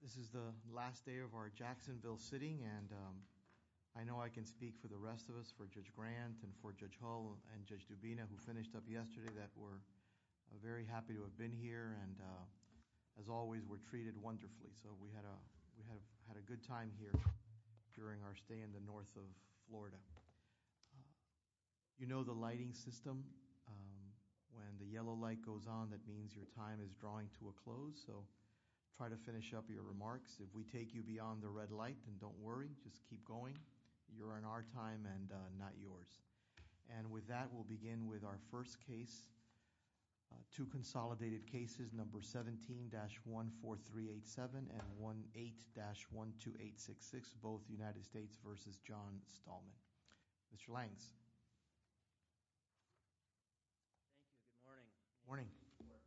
This is the last day of our Jacksonville sitting and I know I can speak for the rest of us, for Judge Grant and for Judge Hull and Judge Dubina who finished up yesterday that were very happy to have been here and as always were treated wonderfully. So we had a good time here during our stay in the north of Florida. You know the lighting system, when the yellow light goes on that means your time is drawing to a close, so try to finish up your remarks. If we take you beyond the red light then don't worry, just keep going. You're on our time and not yours. And with that we'll begin with our first case, two consolidated cases, number 17-14387 and 18-12866, both United States v. John Stahlman. Mr. Langes. Thank you, good morning.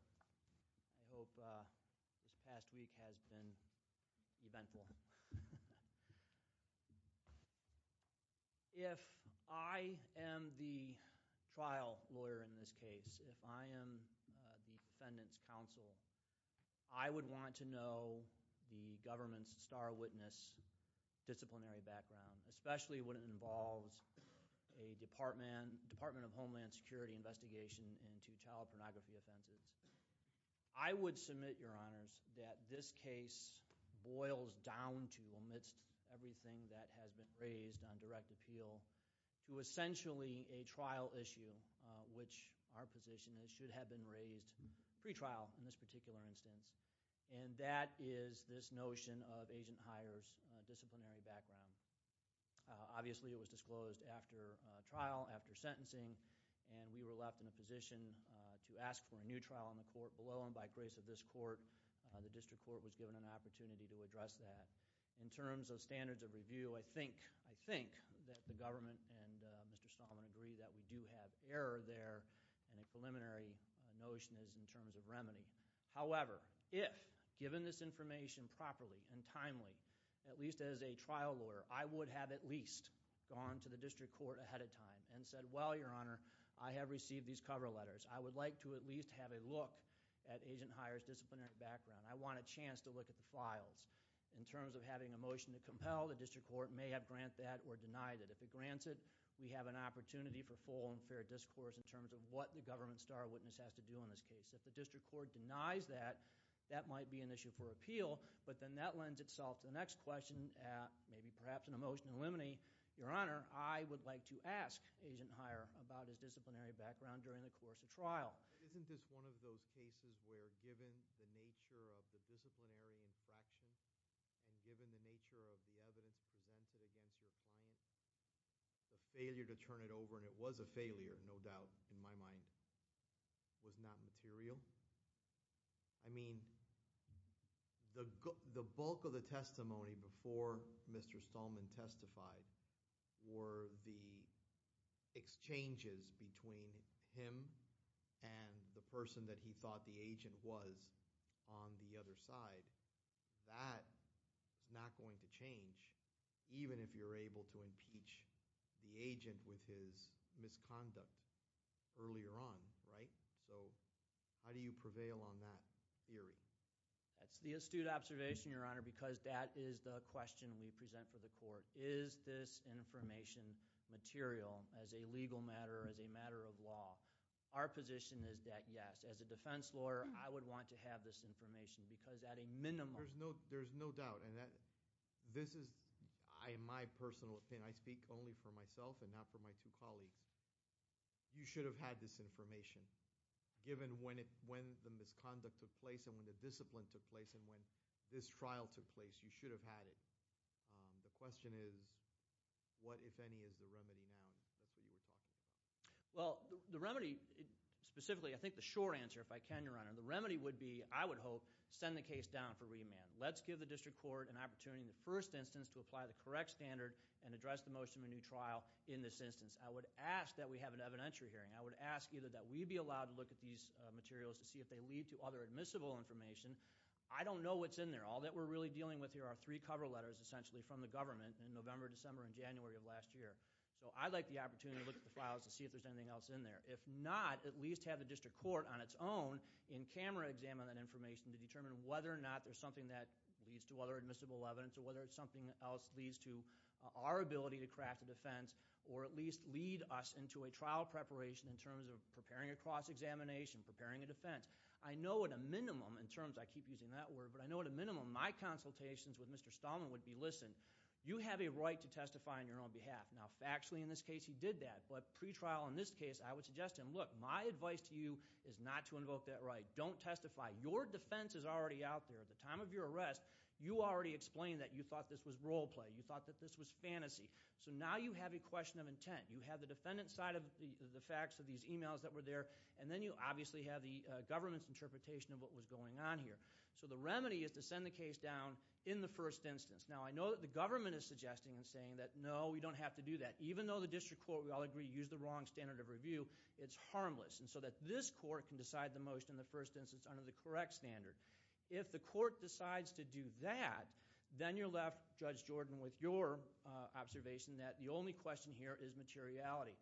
I hope this past week has been eventful. If I am the trial lawyer in this case, if I am the defendant's counsel, I would want to know the government's disciplinary background, especially when it involves a Department of Homeland Security investigation into child pornography offenses. I would submit, Your Honors, that this case boils down to, amidst everything that has been raised on direct appeal, to essentially a trial issue, which our position is should have been raised pre-trial in this particular instance, and that is this notion of agent hires, disciplinary background. Obviously it was disclosed after trial, after sentencing, and we were left in a position to ask for a new trial in the court. Below and by grace of this court, the district court was given an opportunity to address that. In terms of standards of review, I think that the government and Mr. Stahlman agree that we do have error there and a preliminary notion is in terms of remedy. However, if, given this information properly and timely, at least as a trial lawyer, I would have at least gone to the district court ahead of time and said, well, Your Honor, I have received these cover letters. I would like to at least have a look at agent hire's disciplinary background. I want a chance to look at the files. In terms of having a motion to compel, the district court may have granted that or denied it. If it grants it, we have an opportunity for full and fair discourse in terms of what the government star witness has to do in this case. If the district court denies that, that might be an issue for appeal, but then that lends itself to the next question, maybe perhaps in a motion to eliminate, Your Honor, I would like to ask agent hire about his disciplinary background during the course of trial. Isn't this one of those cases where given the nature of the disciplinary infraction and given the nature of the evidence presented against your client, the failure to turn it over, no doubt in my mind, was not material? I mean, the bulk of the testimony before Mr. Stallman testified were the exchanges between him and the person that he thought the agent was on the other side. That is not going to change, even if you're able to impeach the defendant earlier on, right? So how do you prevail on that theory? That's the astute observation, Your Honor, because that is the question we present for the court. Is this information material as a legal matter, as a matter of law? Our position is that yes. As a defense lawyer, I would want to have this information because at a minimum There's no doubt. This is my personal opinion. I speak only for myself and not for my two colleagues. You should have had this information given when the misconduct took place and when the discipline took place and when this trial took place. You should have had it. The question is what, if any, is the remedy now? That's what you were talking about. Well, the remedy, specifically, I think the short answer, if I can, Your Honor, the remedy would be, I would hope, send the case down for remand. Let's give the district court an opportunity in the first instance to apply the correct standard and address the motion of a new trial in this instance. I would ask that we have an evidentiary hearing. I would ask either that we be allowed to look at these materials to see if they lead to other admissible information. I don't know what's in there. All that we're really dealing with here are three cover letters, essentially, from the government in November, December, and January of last year. So I'd like the opportunity to look at the files to see if there's anything else in there. If not, at least have the district court, on its own, in camera examine that information to determine whether or not there's something that leads to other admissible evidence or whether it's something else that leads to our ability to craft a defense or at least lead us into a trial preparation in terms of preparing a cross-examination, preparing a defense. I know at a minimum, in terms, I keep using that word, but I know at a minimum, my consultations with Mr. Stallman would be, listen, you have a right to testify on your own behalf. Now, factually, in this case, he did that. But pretrial, in this case, I would suggest to him, look, my advice to you is not to invoke that right. Don't testify. Your defense is already out there. At the time of your arrest, you already explained that you thought this was role play. You thought that this was fantasy. So now you have a question of intent. You have the defendant's side of the facts of these emails that were there, and then you obviously have the government's interpretation of what was going on here. So the remedy is to send the case down in the first instance. Now, I know that the government is suggesting and saying that, no, we don't have to do that. Even though the district court, we all agree, used the wrong standard of review, it's harmless. And so that this court can decide the most in the first instance under the correct standard. If the court decides to do that, then you're left, Judge Jordan, with your observation that the only question here is materiality.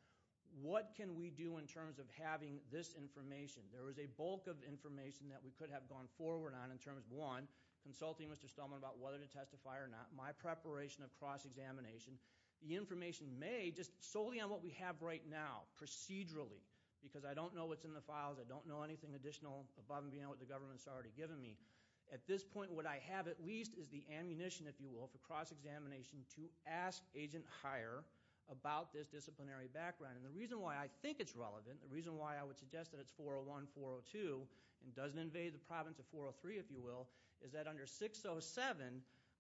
What can we do in terms of having this information? There was a bulk of information that we could have gone forward on in terms of, one, consulting Mr. Stelman about whether to testify or not, my preparation of cross-examination. The information may, just solely on what we have right now, procedurally, because I don't know what's in the files. I don't know anything additional above and beyond what the government's already given me. At this point, what I have, at least, is the ammunition, if you will, for cross-examination to ask agent higher about this disciplinary background. And the reason why I think it's relevant, the reason why I would suggest that it's 401, 402, and doesn't invade the province of 403, if you will, is that under 607,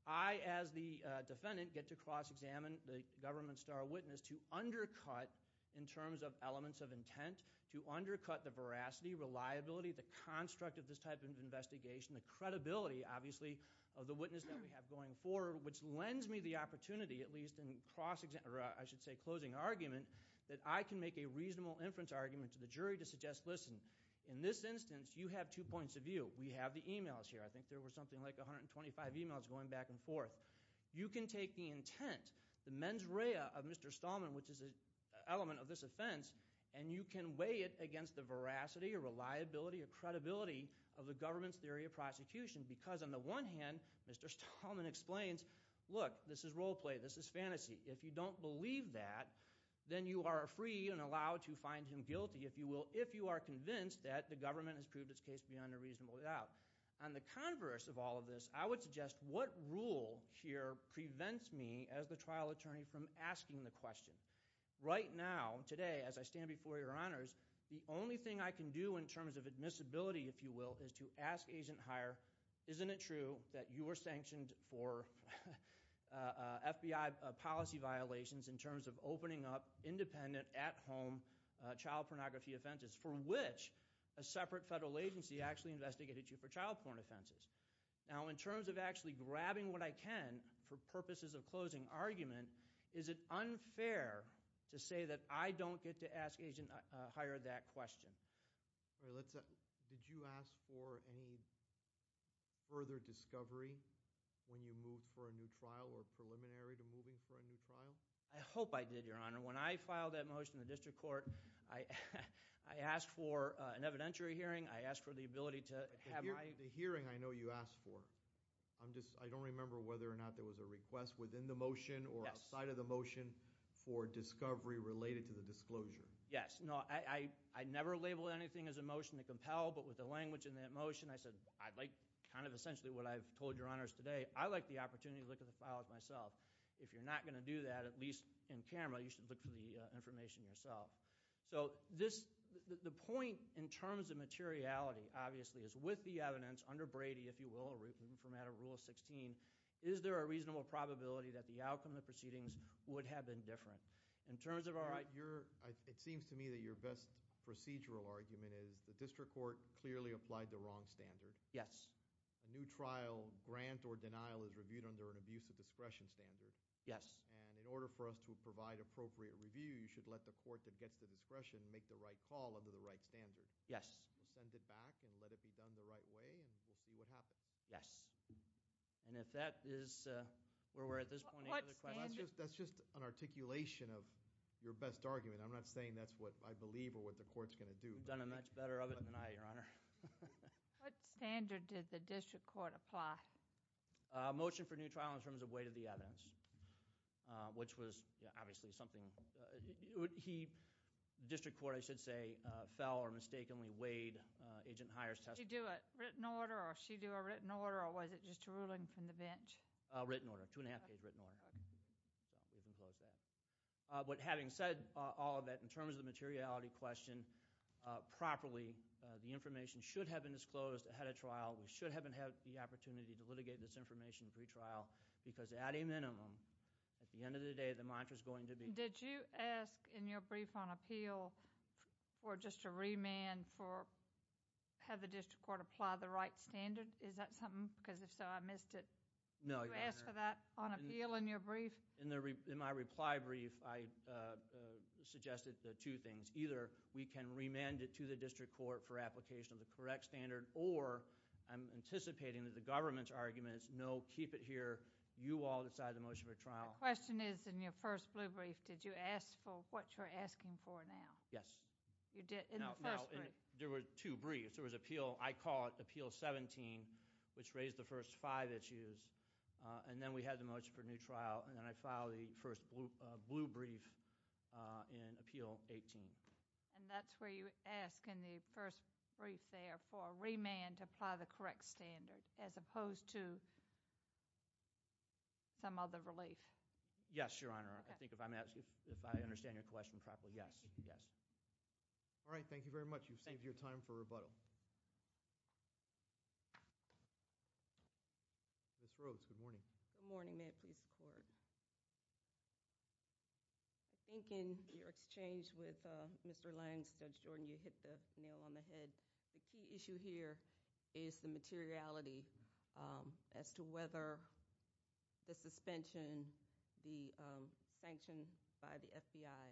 I, as the defendant, get to cross-examine the government star witness to undercut, in terms of elements of intent, to undercut the veracity, reliability, the construct of this type of investigation, the credibility, obviously, of the witness that we have going forward, which lends me the opportunity, at least in cross-examination, or I should say closing argument, that I can make a reasonable inference argument to the jury to suggest, listen, in this instance, you have two points of view. We have the emails here. I think there were something like 125 emails going back and forth. You can take the intent, the mens rea of Mr. Stallman, which is an element of this offense, and you can weigh it against the veracity or reliability or credibility of the government's theory of prosecution, because on the one hand, Mr. Stallman explains, look, this is role play, this is fantasy. If you don't believe that, then you are free and allowed to find him guilty, if you will, if you are convinced that the government has proved its case beyond a reasonable doubt. On the converse of all of this, I would suggest, what rule here prevents me, as the trial attorney, from asking the question? Right now, today, as I stand before your honors, the only thing I can do in terms of admissibility, if you will, is to ask Agent Hire, isn't it true that you were sanctioned for FBI policy violations in terms of opening up independent, at-home child pornography offenses, for which a separate federal agency actually investigated you for child porn offenses? Now, in terms of actually grabbing what I can for purposes of closing argument, is it unfair to say that I don't get to ask Agent Hire that question? Did you ask for any further discovery when you moved for a new trial or preliminary to moving for a new trial? I hope I did, your honor. When I filed that motion in the district court, I asked for an evidentiary hearing. I asked for the ability to have my— The hearing I know you asked for. I don't remember whether or not there was a request within the motion or outside of the motion for discovery related to the disclosure. Yes. No, I never labeled anything as a motion to compel, but with the language in that motion, I said, I like kind of essentially what I've told your honors today. I like the opportunity to look at the files myself. If you're not going to do that, at least in camera, you should look for the information yourself. The point in terms of materiality, obviously, is with the evidence under Brady, if you will, or even from out of Rule 16, is there a reasonable probability that the outcome of the proceedings would have been different? In terms of our— It seems to me that your best procedural argument is the district court clearly applied the wrong standard. Yes. A new trial, grant or denial, is reviewed under an abuse of discretion standard. Yes. In order for us to provide appropriate review, you should let the court that gets the discretion make the right call under the right standard. Yes. We'll send it back and let it be done the right way, and we'll see what happens. Yes. If that is where we're at this point— What standard? That's just an articulation of your best argument. I'm not saying that's what I believe or what the court's going to do. You've done a much better of it than I, your honor. What standard did the district court apply? A motion for new trial in terms of weight of the evidence, which was obviously something— The district court, I should say, fell or mistakenly weighed Agent Heyer's testimony. Did she do a written order, or was it just a ruling from the bench? Written order, two and a half page written order. We can close that. Having said all of that, in terms of the materiality question, properly, the information should have been disclosed ahead of trial. We should have had the opportunity to litigate this information pre-trial, because at a minimum, at the end of the day, the mantra's going to be— Did you ask in your brief on appeal for just a remand for have the district court apply the right standard? Is that something? Because if so, I missed it. No, your honor. Did you ask for that on appeal in your brief? In my reply brief, I suggested the two things. Either we can remand it to the district court for application of the correct standard, or I'm anticipating that the government's argument is no, keep it here. You all decide the motion for trial. My question is, in your first blue brief, did you ask for what you're asking for now? Yes. You did in the first brief. No, no. There were two briefs. There was appeal. I call it appeal 17, which raised the first five issues, and then we had the motion for And that's where you ask in the first brief there for a remand to apply the correct standard, as opposed to some other relief. Yes, your honor. I think if I'm asking—if I understand your question properly, yes, yes. All right, thank you very much. You've saved your time for rebuttal. Ms. Rhodes, good morning. Good morning. May it please the court. I think in your exchange with Mr. Langs, Judge Jordan, you hit the nail on the head. The key issue here is the materiality as to whether the suspension, the sanction by the FBI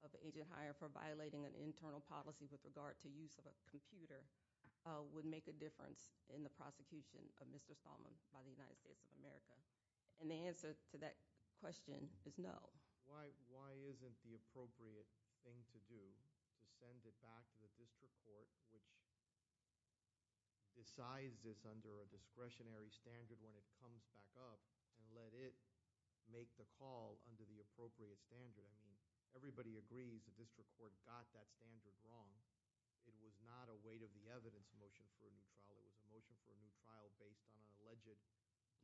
of Agent Heyer for violating an internal policy with regard to use of a computer would make a difference in the prosecution of Mr. Stallman by the And the answer to that question is no. Why isn't the appropriate thing to do to send it back to the district court, which decides this under a discretionary standard when it comes back up, and let it make the call under the appropriate standard? I mean, everybody agrees the district court got that standard wrong. It was not a weight of the evidence motion for a new trial. It was a motion for a new trial based on an alleged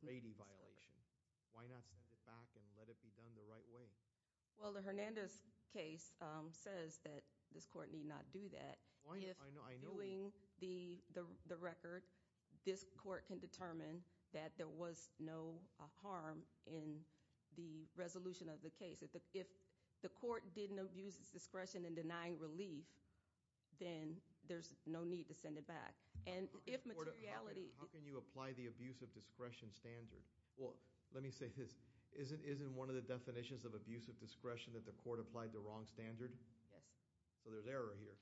lady violation. Why not send it back and let it be done the right way? Well, the Hernandez case says that this court need not do that. Why not? I know. If, viewing the record, this court can determine that there was no harm in the resolution of the case. If the court didn't abuse its discretion in denying relief, then there's no need to send it back. How can you apply the abuse of discretion standard? Well, let me say this. Isn't one of the definitions of abuse of discretion that the court applied the wrong standard? Yes. So there's error here.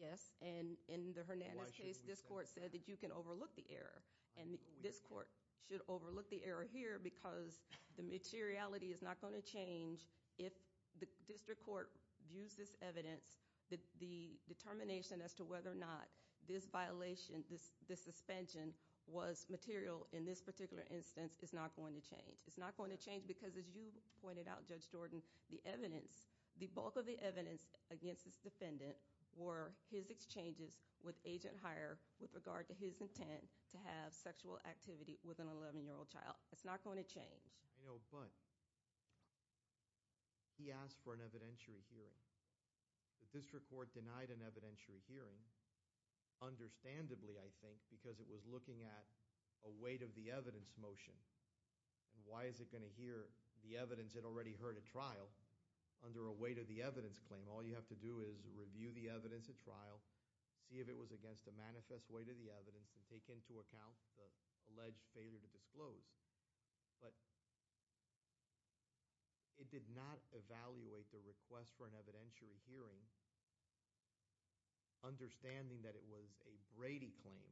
Yes, and in the Hernandez case, this court said that you can overlook the error, and this court should overlook the error here because the materiality is not going to change if the district court views this evidence, the determination as to whether or not this violation, this suspension was material in this particular instance is not going to change. It's not going to change because, as you pointed out, Judge Jordan, the evidence, the bulk of the evidence against this defendant were his exchanges with Agent Hire with regard to his intent to have sexual activity with an 11-year-old child. It's not going to change. I know, but he asked for an evidentiary hearing. The district court denied an evidentiary hearing, understandably, I think, because it was looking at a weight of the evidence motion, and why is it going to hear the evidence it already heard at trial under a weight of the evidence claim? All you have to do is review the evidence at trial, see if it was against a manifest weight of the evidence, and take into account the alleged failure to disclose. But it did not evaluate the request for an evidentiary hearing, understanding that it was a Brady claim,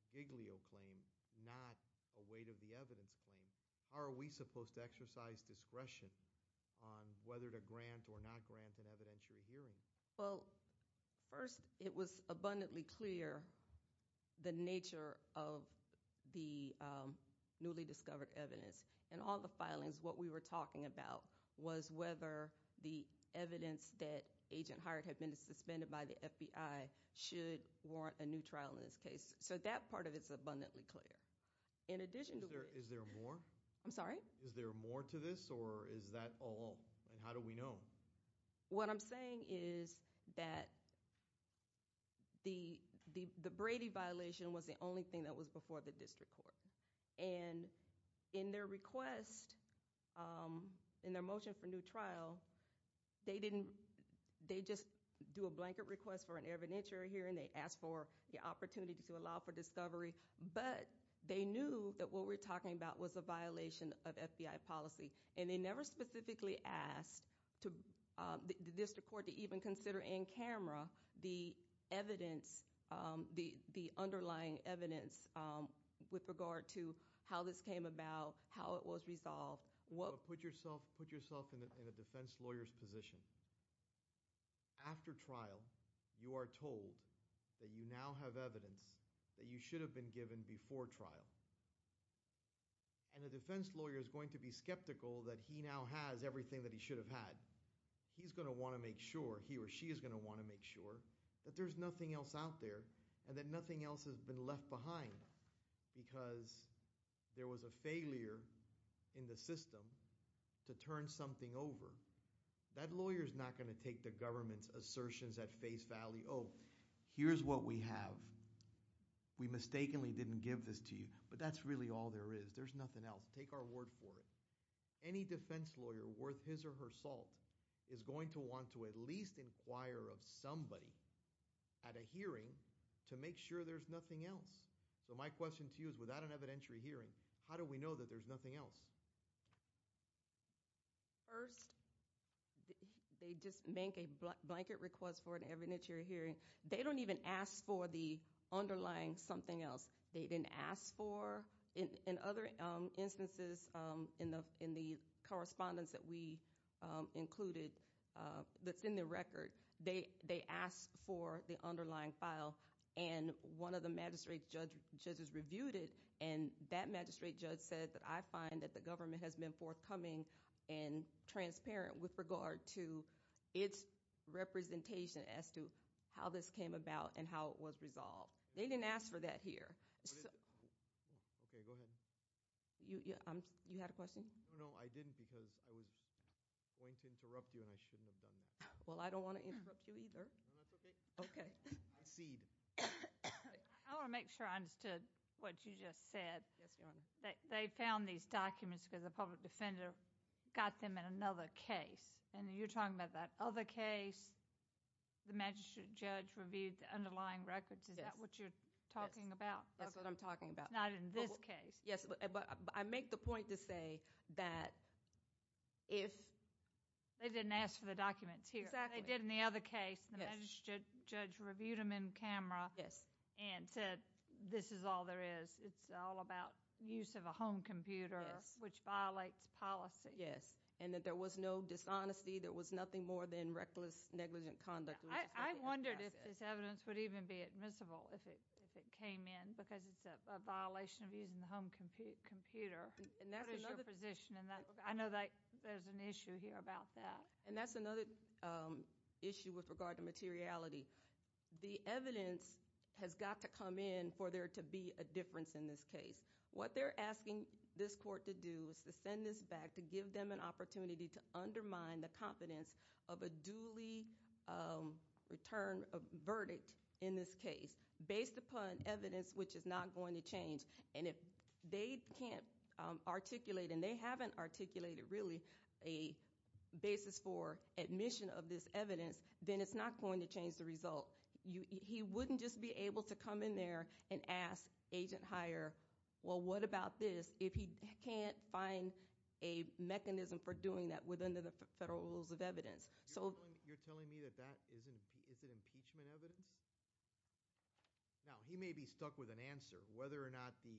a Giglio claim, not a weight of the evidence claim. How are we supposed to exercise discretion on whether to grant or not grant an evidentiary hearing? Well, first, it was abundantly clear the nature of the newly discovered evidence. In all the cases, whether the evidence that Agent Hire had been suspended by the FBI should warrant a new trial in this case. So that part of it is abundantly clear. Is there more? I'm sorry? Is there more to this, or is that all? And how do we know? What I'm saying is that the Brady violation was the only thing that was before the district court. And in their request, in their motion for new trial, they just do a blanket request for an evidentiary hearing. They ask for the opportunity to allow for discovery. But they knew that what we're talking about was a violation of FBI policy. And they never specifically asked the district court to even consider in camera the evidence, the underlying evidence with regard to how this came about, how it was resolved. Put yourself in a defense lawyer's position. After trial, you are told that you now have evidence that you should have been given before trial. And a defense lawyer is going to be skeptical that he now has everything that he should have had. He's going to want to make sure, he or she is going to want to make sure, that there's nothing else out there and that nothing else has been left behind because there was a failure in the system to turn something over. That lawyer's not going to take the government's assertions at face value, oh, here's what we have. We mistakenly didn't give this to you. But that's really all there is. There's nothing else. Take our word for it. Any defense lawyer worth his or her salt is going to want to at least inquire of somebody at a hearing to make sure there's nothing else. So my question to you is, without an evidentiary hearing, how do we know that there's nothing else? First, they just make a blanket request for an evidentiary hearing. They don't even ask for the underlying something else. They didn't ask for, in other instances, in the correspondence that we included that's in the record, they asked for the underlying file and one of the magistrate judges reviewed it and that magistrate judge said that I find that the government has been forthcoming and transparent with regard to its representation as to how this came about and how it was resolved. They didn't ask for that here. You had a question? No, I didn't because I was going to interrupt you and I shouldn't have done that. Well, I don't want to interrupt you either. No, that's okay. Okay. Proceed. I want to make sure I understood what you just said. Yes, Your Honor. They found these documents because a public defender got them in another case and you're talking about that other case, the magistrate judge reviewed the underlying records. Is that what you're talking about? Yes, that's what I'm talking about. It's not in this case. Yes, but I make the point to say that if— They didn't ask for the documents here. Exactly. They did in the other case. The magistrate judge reviewed them in camera and said this is all there is. It's all about use of a home computer, which violates policy. Yes, and that there was no dishonesty. There was nothing more than reckless, negligent conduct. I wondered if this evidence would even be admissible if it came in because it's a violation of using the home computer. What is your position in that? I know there's an issue here about that. And that's another issue with regard to materiality. The evidence has got to come in for there to be a difference in this case. What they're asking this court to do is to send this back to give them an opportunity to undermine the confidence of a duly returned verdict in this case based upon evidence which is not going to change. And if they can't articulate and they haven't articulated really a basis for admission of this evidence, then it's not going to change the result. He wouldn't just be able to come in there and ask agent hire, well, what about this if he can't find a mechanism for doing that within the federal rules of evidence? You're telling me that that isn't impeachment evidence? Now, he may be stuck with an answer. Whether or not the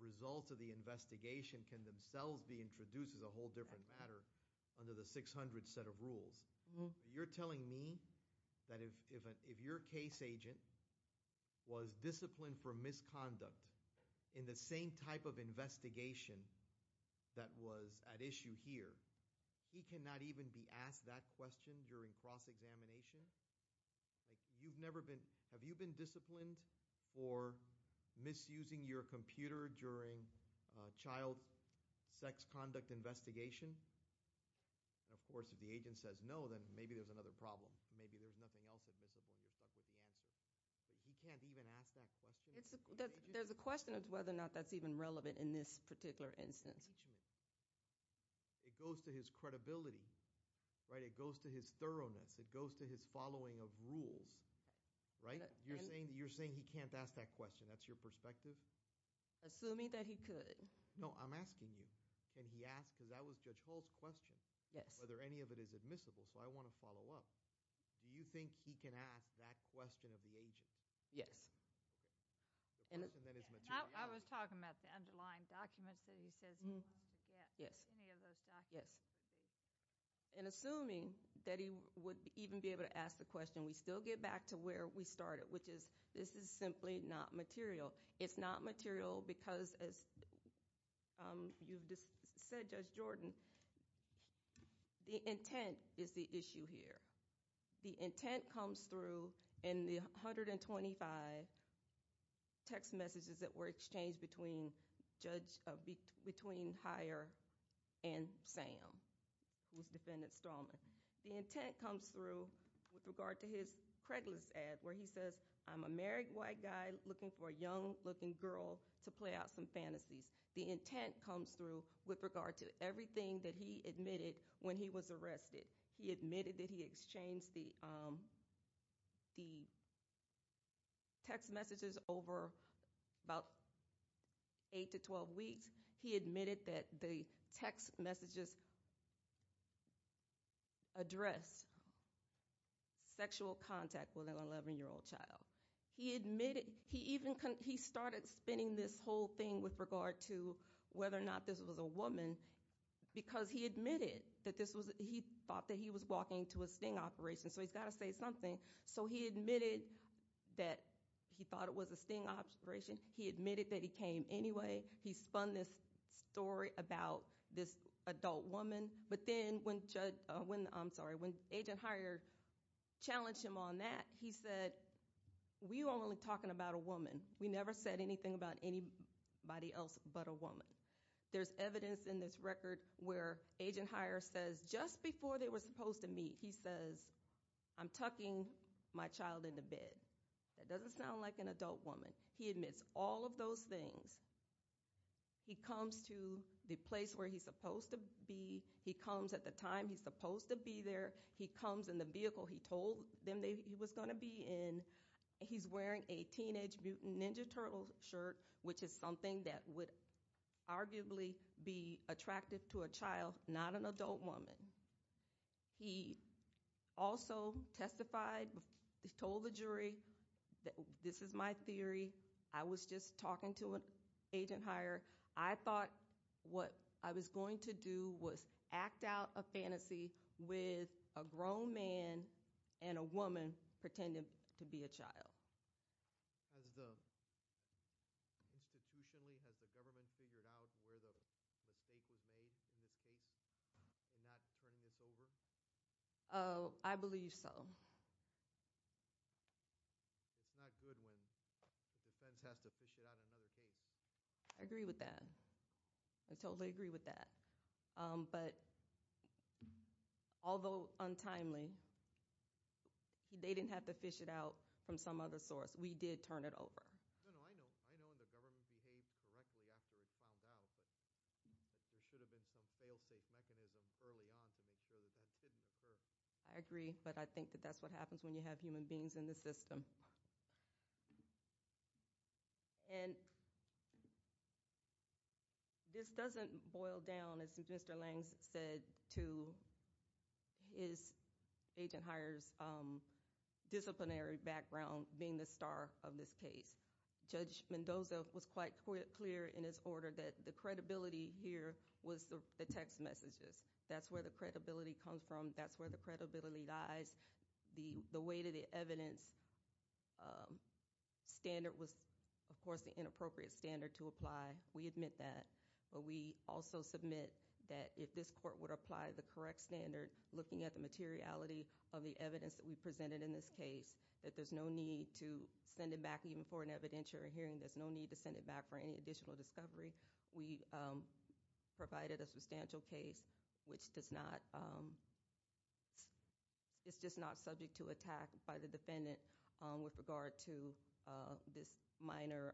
results of the investigation can themselves be introduced is a whole different matter under the 600 set of rules. You're telling me that if your case agent was disciplined for misconduct in the same type of investigation that was at issue here, he cannot even be asked that question during cross-examination? Have you been disciplined for misusing your computer during child sex conduct investigation? Of course, if the agent says no, then maybe there's another problem. Maybe there's nothing else admissible and you're stuck with the answer. But he can't even ask that question? There's a question as to whether or not that's even relevant in this particular instance. It goes to his credibility, right? It goes to his thoroughness. It goes to his following of rules, right? You're saying he can't ask that question. That's your perspective? Assuming that he could. No, I'm asking you, can he ask, because that was Judge Hall's question, whether any of it is admissible. So I want to follow up. Do you think he can ask that question of the agent? Yes. I was talking about the underlying documents that he says he wants to get. Yes. Any of those documents. Yes. And assuming that he would even be able to ask the question, we still get back to where we started, which is this is simply not material. It's not material because, as you've just said, Judge Jordan, the intent is the issue here. The intent comes through in the 125 text messages that were exchanged between Hire and Sam, who's Defendant Stallman. The intent comes through with regard to his Craiglist ad where he says, I'm a married white guy looking for a young-looking girl to play out some fantasies. The intent comes through with regard to everything that he admitted when he was arrested. He admitted that he exchanged the text messages over about 8 to 12 weeks. He admitted that the text messages addressed sexual contact with an 11-year-old child. He admitted he even started spinning this whole thing with regard to whether or not this was a woman because he admitted that he thought that he was walking to a sting operation. So he's got to say something. So he admitted that he thought it was a sting operation. He admitted that he came anyway. He spun this story about this adult woman. But then when Agent Hire challenged him on that, he said, we were only talking about a woman. We never said anything about anybody else but a woman. There's evidence in this record where Agent Hire says just before they were supposed to meet, he says, I'm tucking my child into bed. That doesn't sound like an adult woman. He admits all of those things. He comes to the place where he's supposed to be. He comes at the time he's supposed to be there. He comes in the vehicle he told them he was going to be in. He's wearing a Teenage Mutant Ninja Turtle shirt, which is something that would arguably be attractive to a child, not an adult woman. He also testified, told the jury, this is my theory. I was just talking to Agent Hire. I thought what I was going to do was act out a fantasy with a grown man and a woman pretending to be a child. Has the institutionally, has the government figured out where the mistake was made in this case in not turning this over? I believe so. It's not good when the defense has to fish it out in another case. I agree with that. I totally agree with that. Although untimely, they didn't have to fish it out from some other source. We did turn it over. I know the government behaved correctly after it found out, but there should have been some fail-safe mechanism early on to make sure that that didn't occur. I agree, but I think that that's what happens when you have human beings in the system. And this doesn't boil down, as Mr. Langs said to Agent Hire's disciplinary background, being the star of this case. Judge Mendoza was quite clear in his order that the credibility here was the text messages. That's where the credibility comes from. That's where the credibility lies. The weight of the evidence standard was, of course, the inappropriate standard to apply. We admit that, but we also submit that if this court would apply the correct standard, looking at the materiality of the evidence that we presented in this case, that there's no need to send it back even for an evidentiary hearing. There's no need to send it back for any additional discovery. We provided a substantial case which is just not subject to attack by the defendant with regard to this minor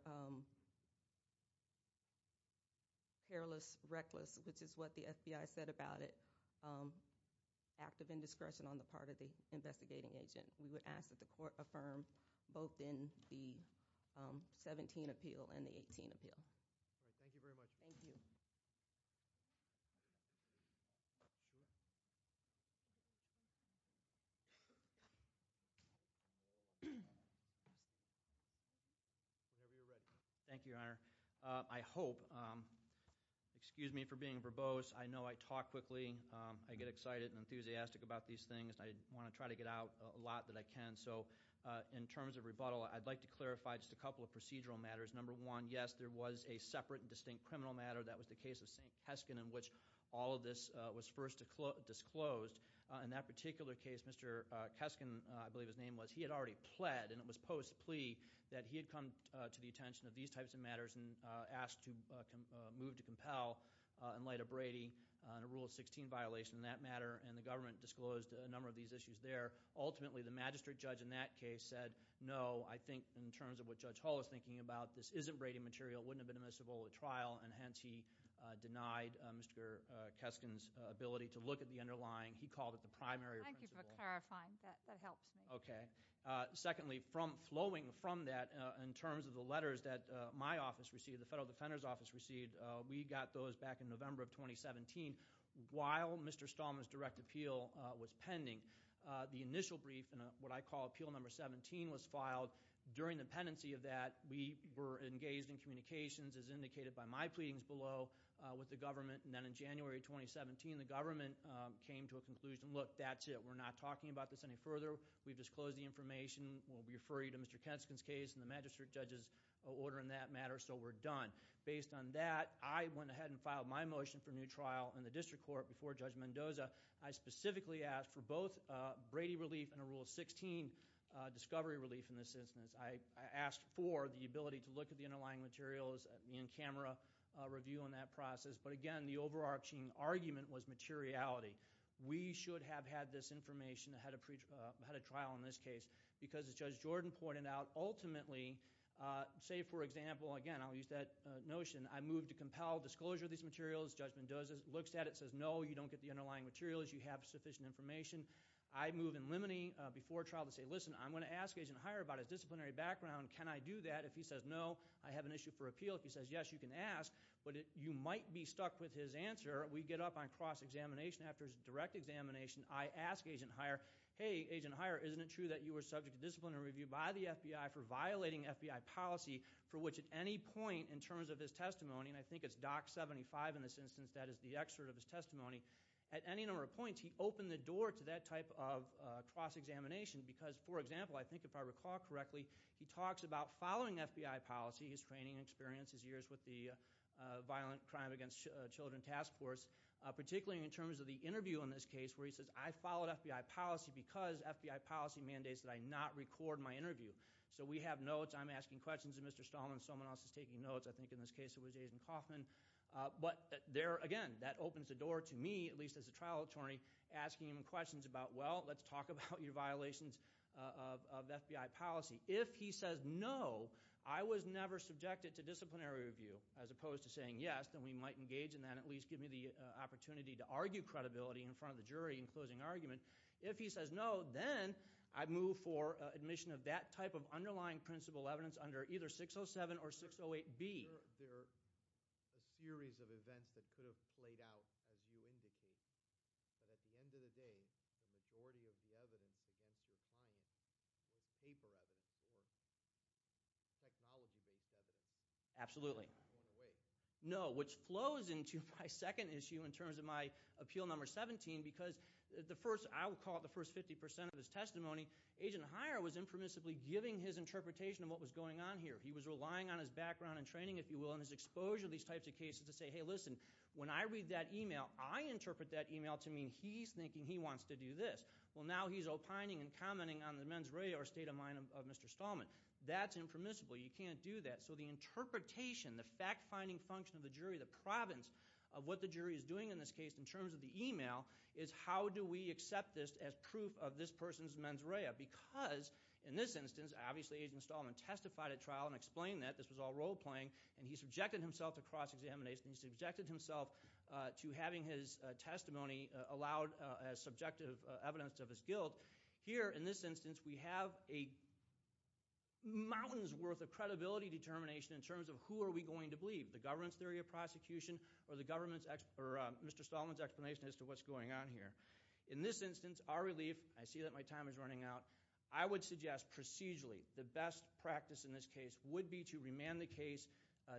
perilous, reckless, which is what the FBI said about it, active indiscretion on the part of the investigating agent. We would ask that the court affirm both in the 17 appeal and the 18 appeal. Thank you very much. Thank you, Your Honor. I hope—excuse me for being verbose. I know I talk quickly. I get excited and enthusiastic about these things. I want to try to get out a lot that I can. In terms of rebuttal, I'd like to clarify just a couple of procedural matters. Number one, yes, there was a separate and distinct criminal matter. That was the case of St. Kesken in which all of this was first disclosed. In that particular case, Mr. Kesken, I believe his name was, he had already pled, and it was post plea that he had come to the attention of these types of matters and asked to move to compel in light of Brady and a Rule of 16 violation in that matter, and the government disclosed a number of these issues there. Ultimately, the magistrate judge in that case said no. I think in terms of what Judge Hall is thinking about, this isn't Brady material. It wouldn't have been admissible at trial, and hence he denied Mr. Kesken's ability to look at the underlying. He called it the primary principle. Thank you for clarifying. That helps me. Okay. Secondly, flowing from that, in terms of the letters that my office received, the Federal Defender's Office received, we got those back in November of 2017 while Mr. Stallman's direct appeal was pending. The initial brief in what I call Appeal Number 17 was filed. During the pendency of that, we were engaged in communications, as indicated by my pleadings below, with the government. And then in January of 2017, the government came to a conclusion, look, that's it. We're not talking about this any further. We've disclosed the information. We'll refer you to Mr. Kesken's case and the magistrate judge's order in that matter, so we're done. Based on that, I went ahead and filed my motion for new trial in the district court before Judge Mendoza. I specifically asked for both Brady relief and a Rule 16 discovery relief in this instance. I asked for the ability to look at the underlying materials in camera review in that process. But again, the overarching argument was materiality. We should have had this information ahead of trial in this case because, as Judge Jordan pointed out, ultimately, say, for example, again, I'll use that notion. As Judge Mendoza looks at it and says, no, you don't get the underlying materials. You have sufficient information. I move in limiting before trial to say, listen, I'm going to ask Agent Heyer about his disciplinary background. Can I do that? If he says no, I have an issue for appeal. If he says yes, you can ask. But you might be stuck with his answer. We get up on cross-examination after his direct examination. I ask Agent Heyer, hey, Agent Heyer, isn't it true that you were subject to disciplinary review by the FBI for violating FBI policy, for which at any point in terms of his testimony, and I think it's DOC 75 in this instance, that is the excerpt of his testimony. At any number of points, he opened the door to that type of cross-examination because, for example, I think if I recall correctly, he talks about following FBI policy, his training and experience, his years with the Violent Crime Against Children Task Force, particularly in terms of the interview in this case where he says, I followed FBI policy because FBI policy mandates that I not record my interview. So we have notes. I'm asking questions of Mr. Stallman. Someone else is taking notes. I think in this case it was Jason Kaufman. But there, again, that opens the door to me, at least as a trial attorney, asking him questions about, well, let's talk about your violations of FBI policy. If he says no, I was never subjected to disciplinary review, as opposed to saying yes, then we might engage in that and at least give me the opportunity to argue credibility in front of the jury in closing argument. If he says no, then I move for admission of that type of underlying principle evidence under either 607 or 608B. There are a series of events that could have played out as you indicated. But at the end of the day, the majority of the evidence against your client is paper evidence or technology-based evidence. Absolutely. No, which flows into my second issue in terms of my appeal number 17 because the first – I will call it the first 50 percent of his testimony. Agent Heyer was impermissibly giving his interpretation of what was going on here. He was relying on his background and training, if you will, and his exposure to these types of cases to say, hey, listen, when I read that email, I interpret that email to mean he's thinking he wants to do this. Well, now he's opining and commenting on the men's radio or state of mind of Mr. Stallman. That's impermissible. You can't do that. So the interpretation, the fact-finding function of the jury, the province of what the jury is doing in this case in terms of the email is how do we accept this as proof of this person's mens rea because in this instance, obviously Agent Stallman testified at trial and explained that. This was all role-playing, and he subjected himself to cross-examination. He subjected himself to having his testimony allowed as subjective evidence of his guilt. Here, in this instance, we have a mountain's worth of credibility determination in terms of who are we going to believe, the government's theory of prosecution or Mr. Stallman's explanation as to what's going on here. In this instance, our relief, I see that my time is running out, I would suggest procedurally the best practice in this case would be to remand the case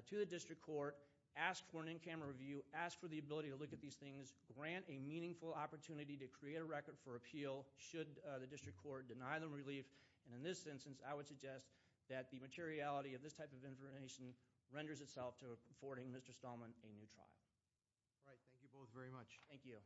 to the district court, ask for an in-camera review, ask for the ability to look at these things, grant a meaningful opportunity to create a record for appeal should the district court deny them relief, and in this instance, I would suggest that the materiality of this type of information renders itself to affording Mr. Stallman a new trial. All right, thank you both very much. Thank you.